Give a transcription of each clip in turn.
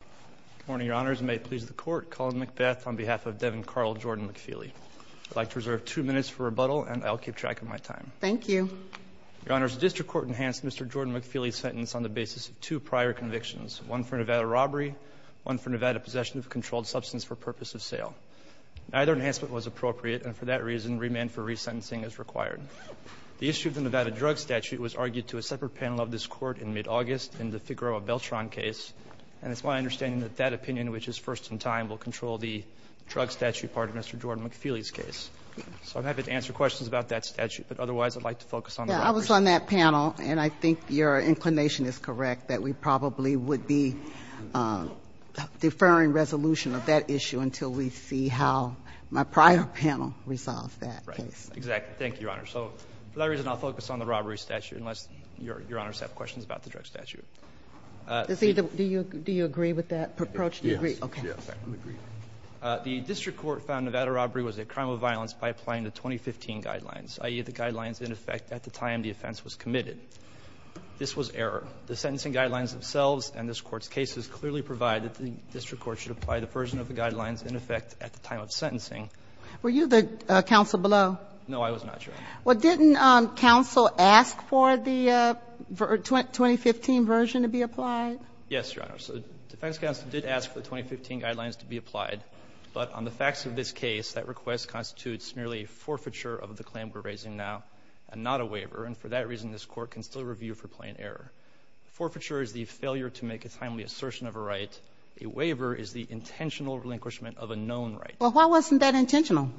Good morning, Your Honors, and may it please the Court, Colin McBeth on behalf of Devon Carl Jordan-McFeely. I'd like to reserve two minutes for rebuttal, and I'll keep track of my time. Thank you. Your Honors, the District Court enhanced Mr. Jordan-McFeely's sentence on the basis of two prior convictions, one for Nevada robbery, one for Nevada possession of a controlled substance for purpose of sale. Neither enhancement was appropriate, and for that reason remand for resentencing is required. The issue of the Nevada drug statute was argued to a separate panel of this Court in mid-August in the Figueroa Beltran case, and it's my understanding that that opinion, which is first in time, will control the drug statute part of Mr. Jordan-McFeely's case. So I'm happy to answer questions about that statute, but otherwise I'd like to focus on the robbery. I was on that panel, and I think your inclination is correct that we probably would be deferring resolution of that issue until we see how my prior panel resolves that. Right, exactly. Thank you, Your Honor. So for that reason, I'll focus on the robbery statute, unless Your Honors have questions about the drug statute. Do you agree with that approach? Yes. Okay. Yes, I agree. The district court found Nevada robbery was a crime of violence by applying the 2015 guidelines, i.e., the guidelines in effect at the time the offense was committed. This was error. The sentencing guidelines themselves and this Court's cases clearly provide that the district court should apply the version of the guidelines in effect at the time of sentencing. Were you the counsel below? No, I was not, Your Honor. Well, didn't counsel ask for the 2015 version to be applied? Yes, Your Honor. So defense counsel did ask for the 2015 guidelines to be applied, but on the facts of this case, that request constitutes merely forfeiture of the claim we're raising now and not a waiver, and for that reason, this Court can still review for plain error. Forfeiture is the failure to make a timely assertion of a right. A waiver is the intentional relinquishment of a known right. Well, why wasn't that intentional?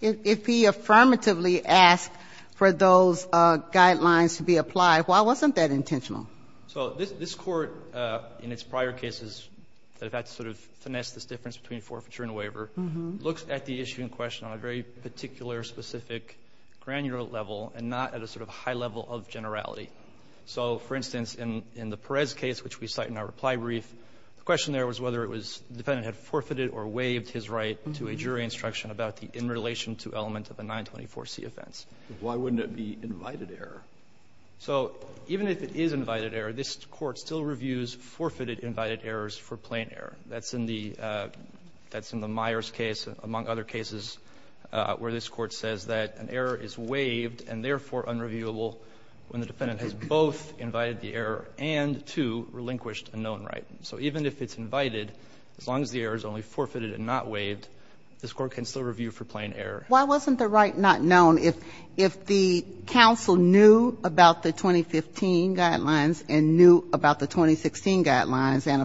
If he affirmatively asked for those guidelines to be applied, why wasn't that intentional? So this Court, in its prior cases that have had to sort of finesse this difference between forfeiture and waiver, looks at the issue in question on a very particular, specific, granular level and not at a sort of high level of generality. So, for instance, in the Perez case, which we cite in our reply brief, the question there was whether it was the defendant had forfeited or waived his right to a jury instruction about the in relation to element of a 924c offense. Why wouldn't it be invited error? So even if it is invited error, this Court still reviews forfeited invited errors for plain error. That's in the Myers case, among other cases, where this Court says that an error is waived and therefore unreviewable when the defendant has both invited the error and, two, relinquished a known right. So even if it's invited, as long as the error is only forfeited and not waived, this Court can still review for plain error. Why wasn't the right not known? If the counsel knew about the 2015 guidelines and knew about the 2016 guidelines and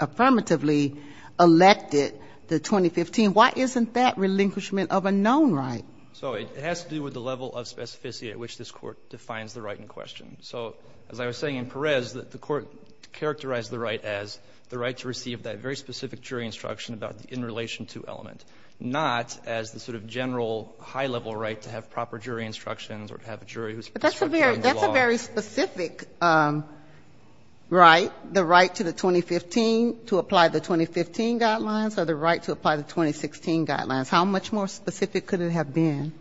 affirmatively elected the 2015, why isn't that relinquishment of a known right? So it has to do with the level of specificity at which this Court defines the right in question. So as I was saying in Perez, the Court characterized the right as the right to receive that very specific jury instruction about the in relation to element, not as the sort of general high-level right to have proper jury instructions or to have a jury who is structuring the law. But that's a very specific right, the right to the 2015, to apply the 2015 guidelines or the right to apply the 2016 guidelines. How much more specific could it have been?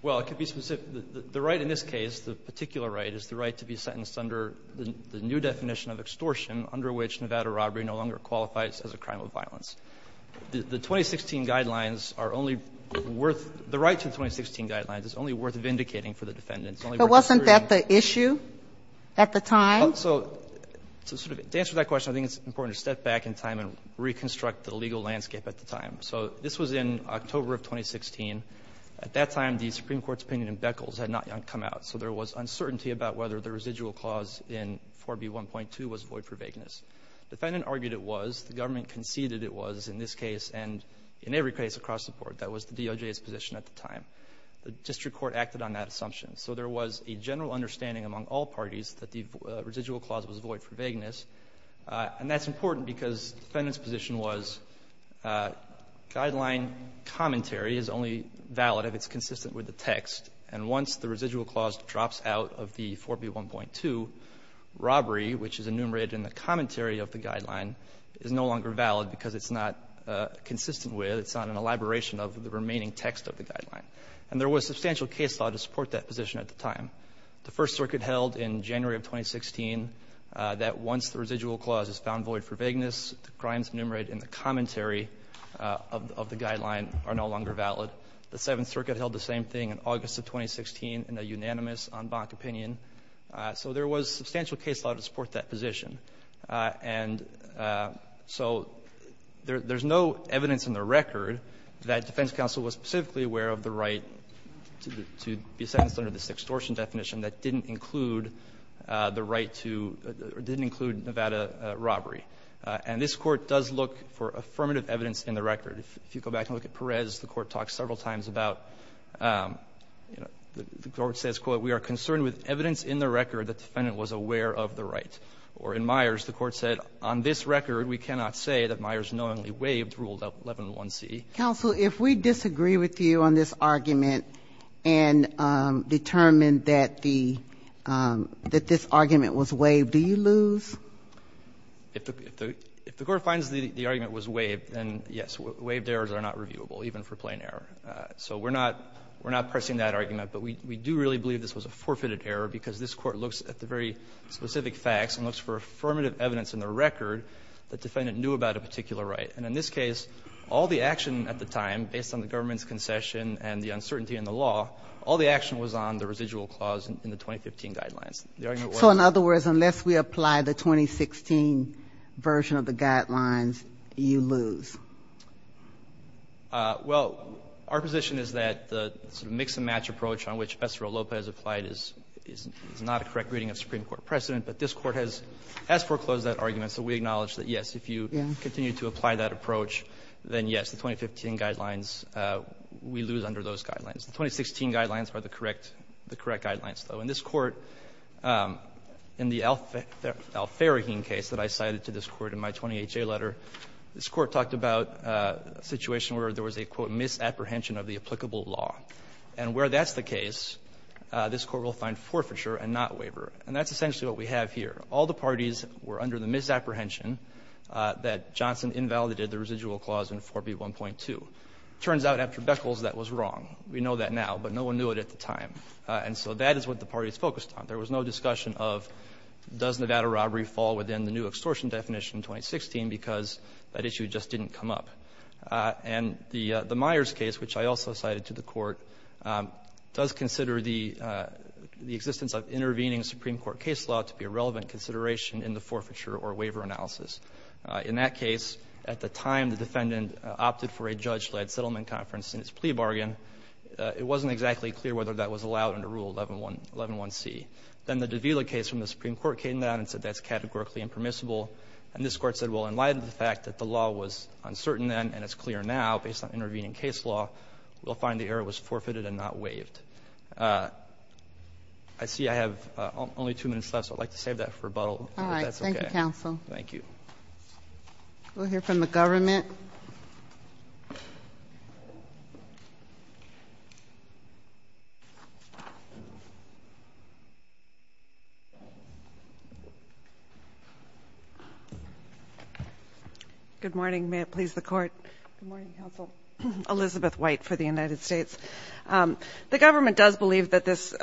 Well, it could be specific. The right in this case, the particular right, is the right to be sentenced under the new definition of extortion under which Nevada robbery no longer qualifies as a crime of violence. The 2016 guidelines are only worth the right to the 2016 guidelines is only worth vindicating for the defendant. It's only worth asserting. But wasn't that the issue at the time? So to sort of answer that question, I think it's important to step back in time and reconstruct the legal landscape at the time. So this was in October of 2016. At that time, the Supreme Court's opinion in Beckles had not yet come out. So there was uncertainty about whether the residual clause in 4B1.2 was void for vagueness. The defendant argued it was. The government conceded it was in this case and in every case across the board. That was the DOJ's position at the time. The district court acted on that assumption. So there was a general understanding among all parties that the residual clause was void for vagueness. And that's important because the defendant's position was guideline commentary is only valid if it's consistent with the text. And once the residual clause drops out of the 4B1.2, robbery, which is enumerated in the commentary of the guideline, is no longer valid because it's not consistent with, it's not an elaboration of the remaining text of the guideline. And there was substantial case law to support that position at the time. The First Circuit held in January of 2016 that once the residual clause is found void for vagueness, the crimes enumerated in the commentary of the guideline are no longer valid. The Seventh Circuit held the same thing in August of 2016 in a unanimous, en banc opinion. So there was substantial case law to support that position. And so there's no evidence in the record that defense counsel was specifically aware of the right to be sentenced under this extortion definition that didn't include the right to, or didn't include Nevada robbery. And this Court does look for affirmative evidence in the record. If you go back and look at Perez, the Court talks several times about, you know, the Court says, quote, we are concerned with evidence in the record that the defendant was aware of the right. Or in Myers, the Court said, on this record, we cannot say that Myers knowingly waived Rule 11.1c. Counsel, if we disagree with you on this argument and determine that the, that this argument was waived, do you lose? If the Court finds the argument was waived, then yes, waived errors are not reviewable, even for plain error. So we're not, we're not pressing that argument. But we do really believe this was a forfeited error because this Court looks at the very specific facts and looks for affirmative evidence in the record that defendant knew about a particular right. And in this case, all the action at the time, based on the government's concession and the uncertainty in the law, all the action was on the residual clause in the 2015 guidelines. So in other words, unless we apply the 2016 version of the guidelines, you lose. Well, our position is that the sort of mix and match approach on which Professor Lopez applied is not a correct reading of Supreme Court precedent. But this Court has, has foreclosed that argument. So we acknowledge that, yes, if you continue to apply that approach, then yes, the 2015 guidelines, we lose under those guidelines. The 2016 guidelines are the correct, the correct guidelines, though. And this Court, in the Al-Faraheen case that I cited to this Court in my 20HA letter, this Court talked about a situation where there was a, quote, misapprehension of the applicable law. And where that's the case, this Court will find forfeiture and not waiver. And that's essentially what we have here. All the parties were under the misapprehension that Johnson invalidated the residual clause in 4B1.2. It turns out after Beckles that was wrong. We know that now, but no one knew it at the time. And so that is what the parties focused on. There was no discussion of does Nevada robbery fall within the new extortion definition in 2016 because that issue just didn't come up. And the Myers case, which I also cited to the Court, does consider the existence of intervening Supreme Court case law to be a relevant consideration in the forfeiture or waiver analysis. In that case, at the time the defendant opted for a judge-led settlement conference in its plea bargain, it wasn't exactly clear whether that was allowed under Rule 111C. Then the Davila case from the Supreme Court came down and said that's categorically impermissible. And this Court said, well, in light of the fact that the law was uncertain then and it's clear now based on intervening case law, we'll find the error was forfeited and not waived. I see I have only two minutes left, so I'd like to save that for rebuttal, if that's okay. All right. Thank you, counsel. Thank you. We'll hear from the government. Good morning. May it please the Court. Good morning, counsel. Elizabeth White for the United States. The government does believe that this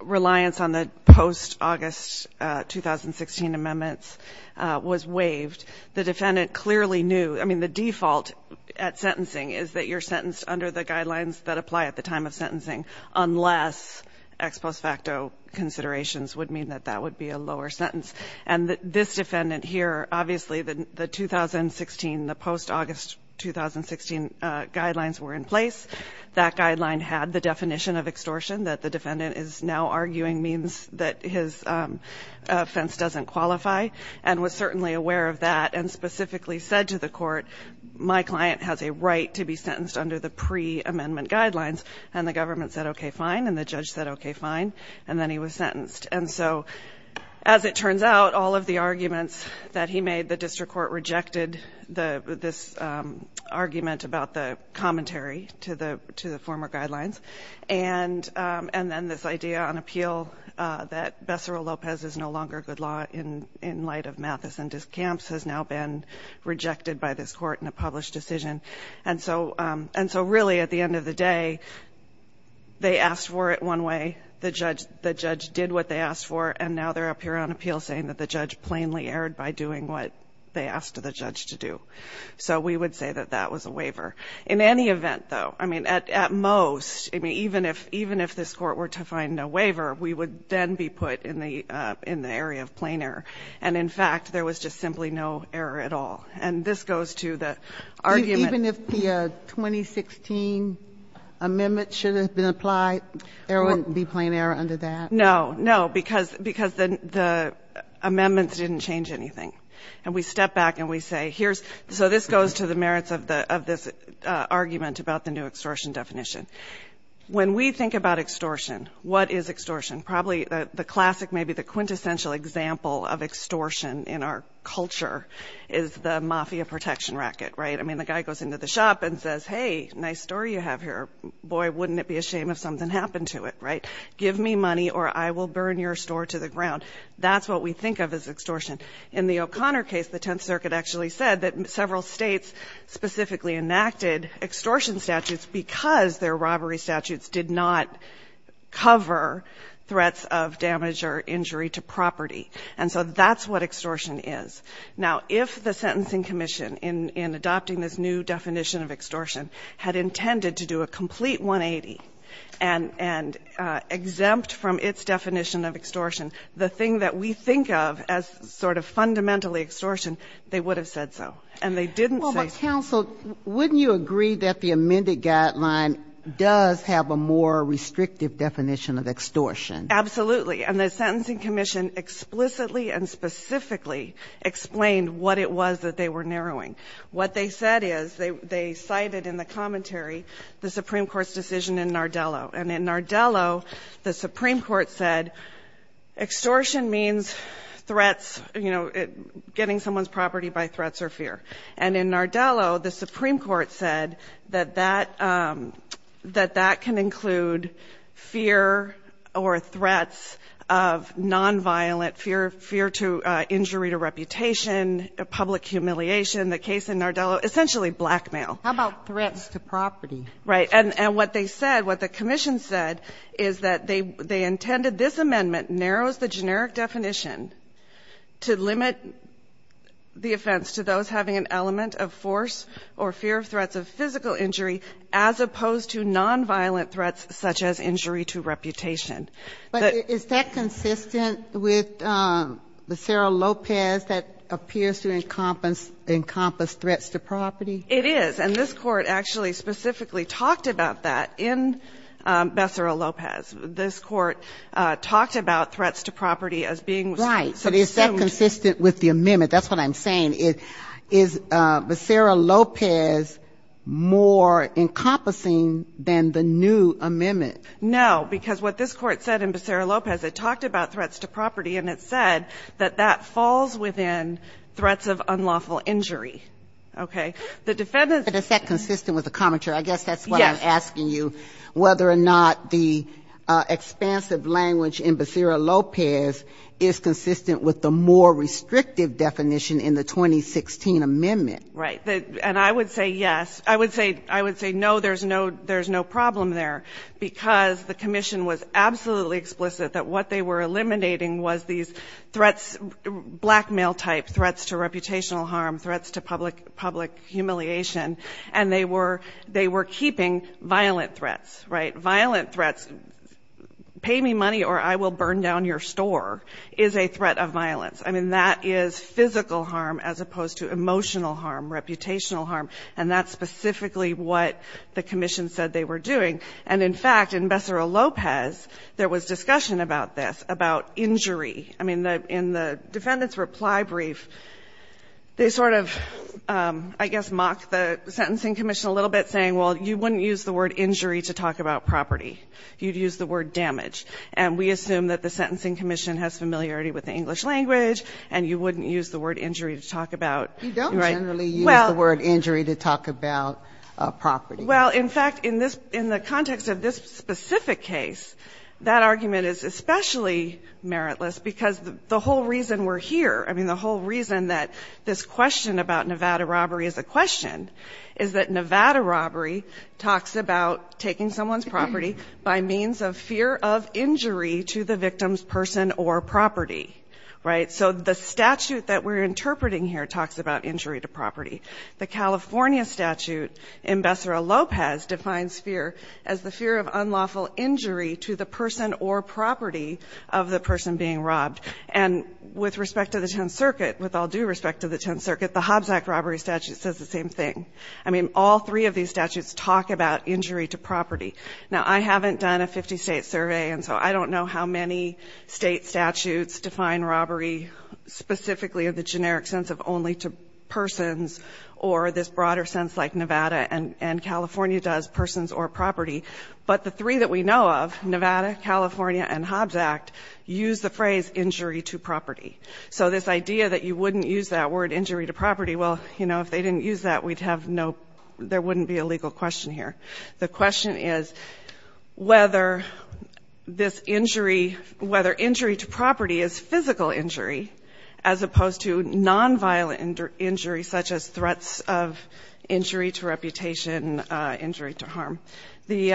reliance on the post-August 2016 amendments was waived. The defendant clearly knew. I mean, the default at sentencing is that you're sentenced under the guidelines that apply at the time of sentencing, unless ex post facto considerations would mean that that would be a lower sentence. And this defendant here, obviously the 2016, the post-August 2016 guidelines were in place. That guideline had the definition of extortion that the defendant is now arguing means that his offense doesn't qualify and was certainly aware of that and specifically said to the court, my client has a right to be sentenced under the pre-amendment guidelines. And the government said, okay, fine, and the judge said, okay, fine, and then he was sentenced. And so as it turns out, all of the arguments that he made, the district court rejected this argument about the commentary to the former guidelines. And then this idea on appeal that Becerra-Lopez is no longer a good law in light of Mathis and Descampes has now been rejected by this court in a published decision. And so really at the end of the day, they asked for it one way, the judge did what they asked for, and now they're up here on appeal saying that the judge plainly erred by doing what they asked the judge to do. So we would say that that was a waiver. In any event, though, I mean, at most, I mean, even if this court were to find no waiver, we would then be put in the area of plain error. And in fact, there was just simply no error at all. And this goes to the argument of the 2016 amendment should have been applied. There wouldn't be plain error under that. No, no, because the amendments didn't change anything. And we step back and we say here's, so this goes to the merits of this argument about the new extortion definition. When we think about extortion, what is extortion? Probably the classic, maybe the quintessential example of extortion in our culture is the mafia protection racket, right? I mean, the guy goes into the shop and says, hey, nice store you have here. Boy, wouldn't it be a shame if something happened to it, right? Give me money or I will burn your store to the ground. That's what we think of as extortion. In the O'Connor case, the Tenth Circuit actually said that several States specifically enacted extortion statutes because their robbery statutes did not cover threats of damage or injury to property. And so that's what extortion is. Now, if the Sentencing Commission in adopting this new definition of extortion had intended to do a complete 180 and exempt from its definition of extortion, the thing that we think of as sort of fundamentally extortion, they would have said so. And they didn't say so. Well, but counsel, wouldn't you agree that the amended guideline does have a more restrictive definition of extortion? Absolutely. And the Sentencing Commission explicitly and specifically explained what it was that they were narrowing. What they said is, they cited in the commentary the Supreme Court's decision in Nardello. And in Nardello, the Supreme Court said extortion means threats, you know, getting someone's property by threats or fear. And in Nardello, the Supreme Court said that that can include fear or threats of nonviolent fear, fear to injury to reputation, public humiliation. The case in Nardello, essentially blackmail. How about threats to property? Right. And what they said, what the commission said is that they intended this amendment narrows the generic definition to limit the offense to those having an element of force or fear of threats of physical injury as opposed to nonviolent threats such as injury to reputation. But is that consistent with the Sara Lopez that appears to encompass threats to property? It is. And this Court actually specifically talked about that in Becerra-Lopez. This Court talked about threats to property as being assumed. Right. But is that consistent with the amendment? That's what I'm saying. Is Becerra-Lopez more encompassing than the new amendment? No. Because what this Court said in Becerra-Lopez, it talked about threats to property and it said that that falls within threats of unlawful injury. Okay. But is that consistent with the commentary? Yes. I guess that's what I'm asking you, whether or not the expansive language in Becerra-Lopez is consistent with the more restrictive definition in the 2016 amendment. Right. And I would say yes. I would say no, there's no problem there, because the commission was absolutely explicit that what they were eliminating was these threats, blackmail-type threats to reputational harm, threats to public humiliation, and they were keeping violent threats. Right. Violent threats, pay me money or I will burn down your store, is a threat of violence. I mean, that is physical harm as opposed to emotional harm, reputational harm, and that's specifically what the commission said they were doing. And in fact, in Becerra-Lopez, there was discussion about this, about injury. I mean, in the defendant's reply brief, they sort of, I guess, mocked the sentencing commission a little bit, saying, well, you wouldn't use the word injury to talk about property. You'd use the word damage. And we assume that the sentencing commission has familiarity with the English language, and you wouldn't use the word injury to talk about. You don't generally use the word injury to talk about property. Well, in fact, in the context of this specific case, that argument is especially meritless because the whole reason we're here, I mean, the whole reason that this question about Nevada robbery is a question is that Nevada robbery talks about taking someone's property by means of fear of injury to the victim's person or property. Right. So the statute that we're interpreting here talks about injury to property. The California statute in Becerra-Lopez defines fear as the fear of unlawful injury to the person or property of the person being robbed. And with respect to the Tenth Circuit, with all due respect to the Tenth Circuit, the Hobbs Act robbery statute says the same thing. I mean, all three of these statutes talk about injury to property. Now, I haven't done a 50-state survey, and so I don't know how many state statutes define robbery specifically in the generic sense of only to persons or this broader sense like Nevada and California does persons or property. But the three that we know of, Nevada, California, and Hobbs Act, use the phrase injury to property. So this idea that you wouldn't use that word, injury to property, well, you know, if they didn't use that, we'd have no, there wouldn't be a legal question here. The question is whether this injury, whether injury to property is physical injury as opposed to nonviolent injury such as threats of injury to reputation, injury to harm. The,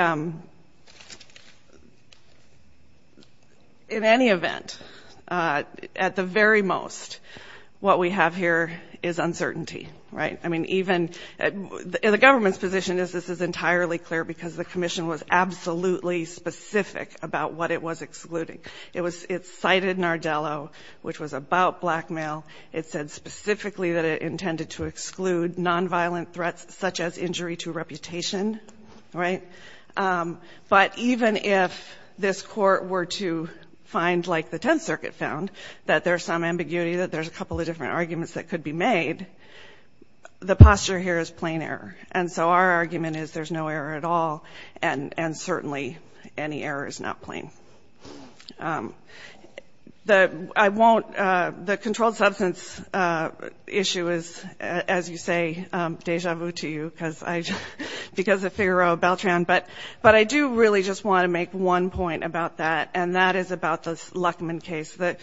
in any event, at the very most, what we have here is uncertainty, right? I mean, even the government's position is this is entirely clear because the Commission was absolutely specific about what it was excluding. It cited Nardello, which was about blackmail. It said specifically that it intended to exclude nonviolent threats such as injury to reputation, right? But even if this Court were to find, like the Tenth Circuit found, that there's some ambiguity, that there's a couple of different arguments that could be made, the posture here is plain error. And so our argument is there's no error at all, and certainly any error is not plain. The, I won't, the controlled substance issue is, as you say, deja vu to you because I, because of Figaro Beltran, but I do really just want to make one point about that, and that is about the Luckman case. The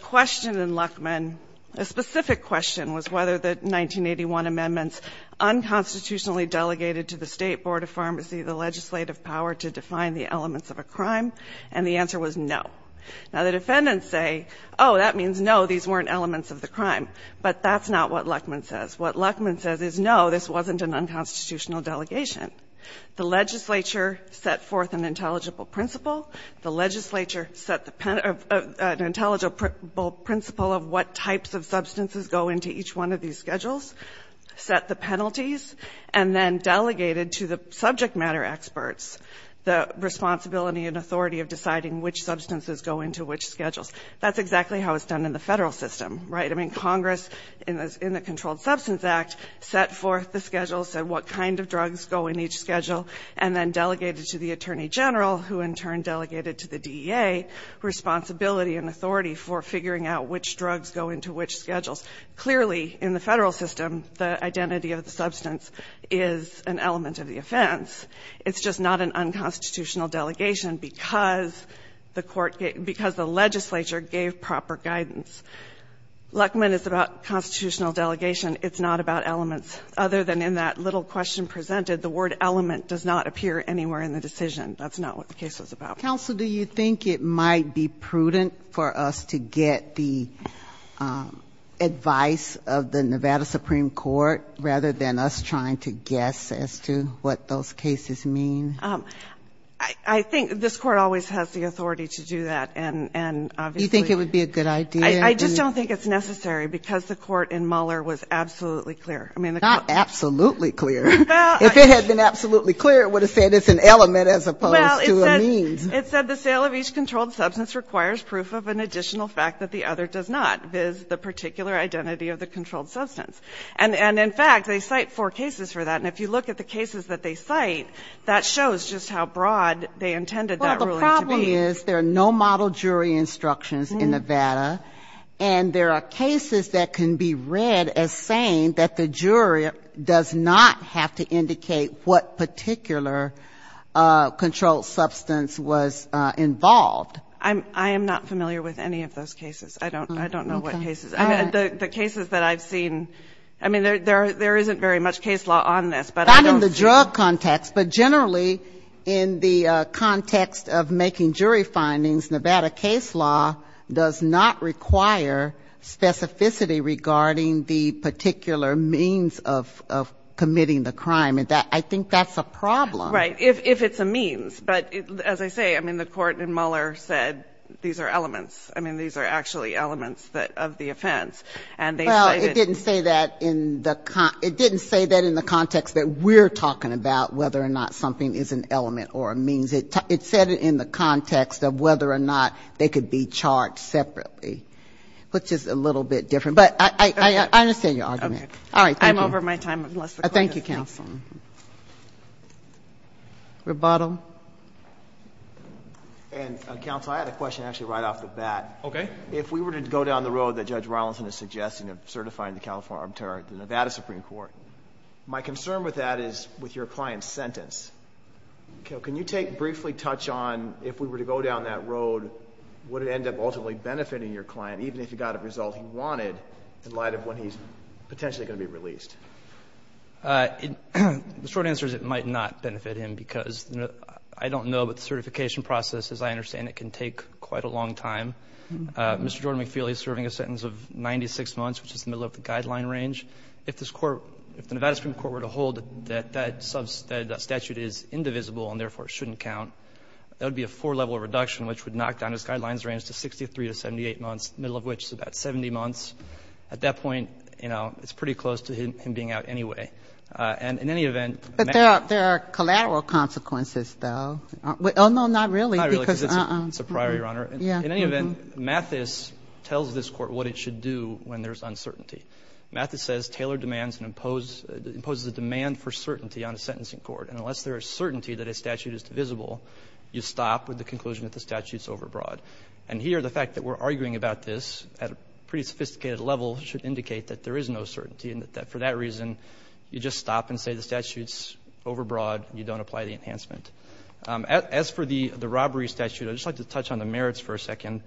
question in Luckman, a specific question was whether the 1981 amendments unconstitutionally delegated to the State Board of Pharmacy the legislative power to define the elements of a crime, and the answer was no. Now, the defendants say, oh, that means no, these weren't elements of the crime. But that's not what Luckman says. What Luckman says is no, this wasn't an unconstitutional delegation. The legislature set forth an intelligible principle. The legislature set the, an intelligible principle of what types of substances go into each one of these schedules, set the penalties, and then delegated to the federal system the responsibility and authority of deciding which substances go into which schedules. That's exactly how it's done in the federal system, right? I mean, Congress, in the Controlled Substance Act, set forth the schedules and what kind of drugs go in each schedule, and then delegated to the Attorney General, who in turn delegated to the DEA responsibility and authority for figuring out which drugs go into which schedules. Clearly, in the federal system, the identity of the substance is an element of the offense. It's just not an unconstitutional delegation because the court, because the legislature gave proper guidance. Luckman is about constitutional delegation. It's not about elements. Other than in that little question presented, the word element does not appear anywhere in the decision. That's not what the case was about. Counsel, do you think it might be prudent for us to get the advice of the Nevada Supreme Court rather than us trying to guess as to what those cases mean? I think this Court always has the authority to do that. And obviously you think it would be a good idea. I just don't think it's necessary because the court in Mueller was absolutely clear. Not absolutely clear. If it had been absolutely clear, it would have said it's an element as opposed to a means. Well, it said the sale of each controlled substance requires proof of an additional fact that the other does not. It is the particular identity of the controlled substance. And in fact, they cite four cases for that. And if you look at the cases that they cite, that shows just how broad they intended that ruling to be. Well, the problem is there are no model jury instructions in Nevada. And there are cases that can be read as saying that the jury does not have to indicate what particular controlled substance was involved. I am not familiar with any of those cases. I don't know what cases. The cases that I've seen, I mean, there isn't very much case law on this. Not in the drug context, but generally in the context of making jury findings, Nevada case law does not require specificity regarding the particular means of committing the crime. I think that's a problem. Right. If it's a means. But as I say, I mean, the Court in Muller said these are elements. I mean, these are actually elements of the offense. And they say that the. Well, it didn't say that in the context that we're talking about, whether or not something is an element or a means. It said it in the context of whether or not they could be charged separately, which is a little bit different. But I understand your argument. All right. Thank you. I'm over my time, unless the Court has anything. Thank you, counsel. Rebottom. And counsel, I had a question actually right off the bat. Okay. If we were to go down the road that Judge Rollinson is suggesting of certifying the California Arbiter at the Nevada Supreme Court, my concern with that is with your client's sentence. Can you take briefly touch on if we were to go down that road, would it end up ultimately benefiting your client, even if you got a result he wanted in light of when he's potentially going to be released? The short answer is it might not benefit him because I don't know, but the certification process, as I understand it, can take quite a long time. Mr. Jordan McFeely is serving a sentence of 96 months, which is the middle of the guideline range. If the Nevada Supreme Court were to hold that that statute is indivisible and therefore shouldn't count, that would be a four-level reduction, which would knock down his guidelines range to 63 to 78 months, the middle of which is about 70 months. At that point, you know, it's pretty close to him being out anyway. And in any event... But there are collateral consequences, though. Oh, no, not really. Not really, because it's a prior, Your Honor. Yeah. In any event, Mathis tells this Court what it should do when there's uncertainty. Mathis says, Taylor demands and imposes a demand for certainty on a sentencing court, and unless there is certainty that a statute is divisible, you stop with the conclusion that the statute is overbroad. And here, the fact that we're arguing about this at a pretty sophisticated level should indicate that there is no certainty and that for that reason you just stop and say the statute's overbroad, you don't apply the enhancement. As for the robbery statute, I'd just like to touch on the merits for a second.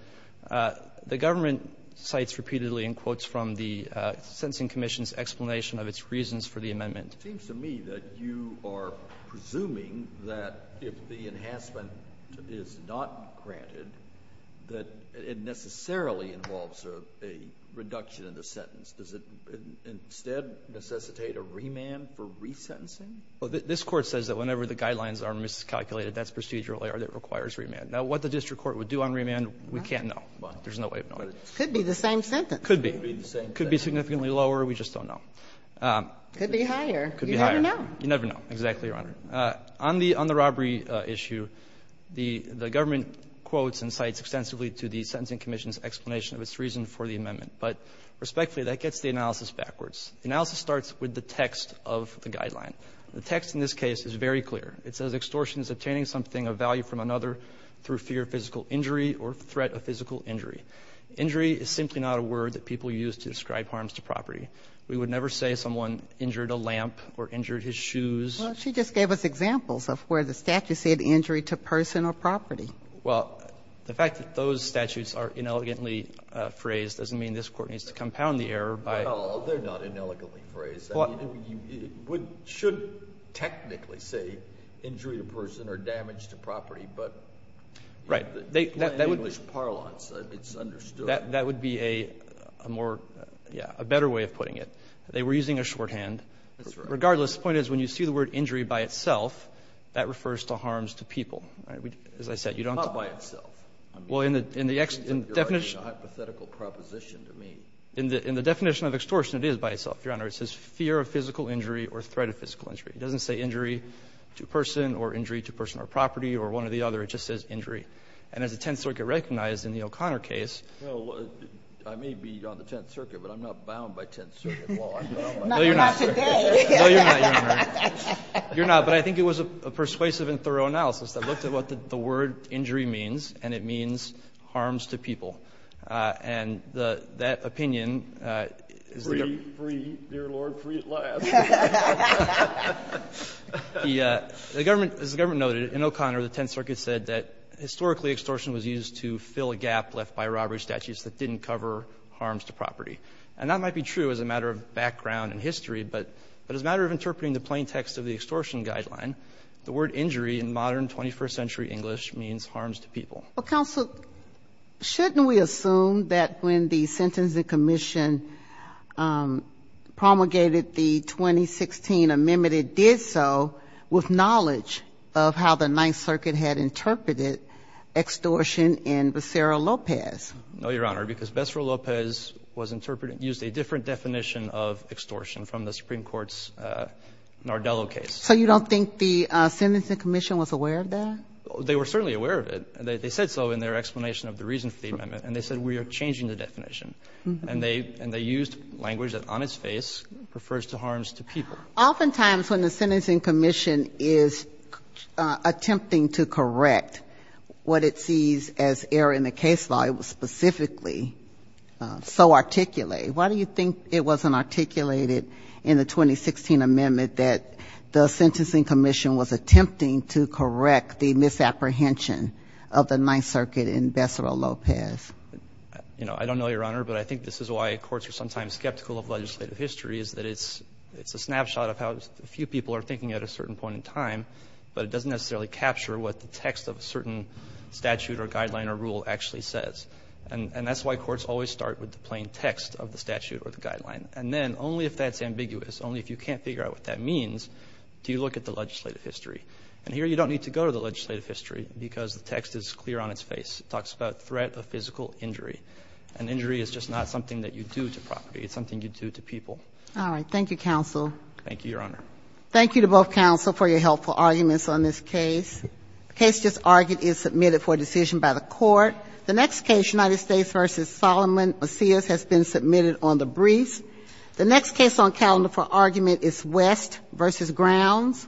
The government cites repeatedly in quotes from the Sentencing Commission's explanation of its reasons for the amendment. It seems to me that you are presuming that if the enhancement is not granted, that it necessarily involves a reduction in the sentence. Does it instead necessitate a remand for resentencing? This Court says that whenever the guidelines are miscalculated, that's procedural error that requires remand. Now, what the district court would do on remand, we can't know. There's no way of knowing. Could be the same sentence. Could be. Could be significantly lower. We just don't know. Could be higher. Could be higher. You never know. You never know. Exactly, Your Honor. On the robbery issue, the government quotes and cites extensively to the Sentencing Commission's explanation of its reason for the amendment. But respectfully, that gets the analysis backwards. Analysis starts with the text of the guideline. The text in this case is very clear. It says extortion is obtaining something of value from another through fear of physical injury or threat of physical injury. Injury is simply not a word that people use to describe harms to property. We would never say someone injured a lamp or injured his shoes. Well, she just gave us examples of where the statute said injury to person or property. Well, the fact that those statutes are inelegantly phrased doesn't mean this Court needs to compound the error by ---- No, they're not inelegantly phrased. It should technically say injury to person or damage to property. But in English parlance, it's understood. That would be a more, yeah, a better way of putting it. They were using a shorthand. That's right. Regardless, the point is when you see the word injury by itself, that refers to harms to people. As I said, you don't ---- It's not by itself. Well, in the definition ---- You're making a hypothetical proposition to me. In the definition of extortion, it is by itself, Your Honor. It says fear of physical injury or threat of physical injury. It doesn't say injury to person or injury to person or property or one or the other. It just says injury. And as the Tenth Circuit recognized in the O'Connor case ---- Well, I may be on the Tenth Circuit, but I'm not bound by Tenth Circuit law. No, you're not. Not today. No, you're not, Your Honor. You're not. But I think it was a persuasive and thorough analysis that looked at what the word injury means, and it means harms to people. And that opinion is the ---- Free, free, dear Lord, free at last. As the government noted, in O'Connor, the Tenth Circuit said that historically extortion was used to fill a gap left by robbery statutes that didn't cover harms to property. And that might be true as a matter of background and history, but as a matter of interpreting the plain text of the extortion guideline, the word injury in modern 21st century English means harms to people. Well, counsel, shouldn't we assume that when the Sentencing Commission promulgated the 2016 amendment, it did so with knowledge of how the Ninth Circuit had interpreted extortion in Becerra-Lopez? No, Your Honor, because Becerra-Lopez was interpreted, used a different definition of extortion from the Supreme Court's Nardello case. So you don't think the Sentencing Commission was aware of that? They were certainly aware of it. They said so in their explanation of the reason for the amendment. And they said, we are changing the definition. And they used language that on its face refers to harms to people. Oftentimes when the Sentencing Commission is attempting to correct what it sees as error in the case law, it was specifically so articulated. Why do you think it wasn't articulated in the 2016 amendment that the Sentencing Commission was attempting to correct the misapprehension of the Ninth Circuit in Becerra-Lopez? You know, I don't know, Your Honor, but I think this is why courts are sometimes skeptical of legislative history, is that it's a snapshot of how a few people are thinking at a certain point in time, but it doesn't necessarily capture what the text of a certain statute or guideline or rule actually says. And that's why courts always start with the plain text of the statute or the guideline. And then only if that's ambiguous, only if you can't figure out what that means, do you look at the legislative history. And here you don't need to go to the legislative history because the text is clear on its face. It talks about threat of physical injury. And injury is just not something that you do to property. It's something you do to people. All right. Thank you, counsel. Thank you, Your Honor. Thank you to both counsel for your helpful arguments on this case. The case just argued is submitted for decision by the court. The next case, United States v. Solomon Macias, has been submitted on the briefs. The next case on calendar for argument is West v. Grounds.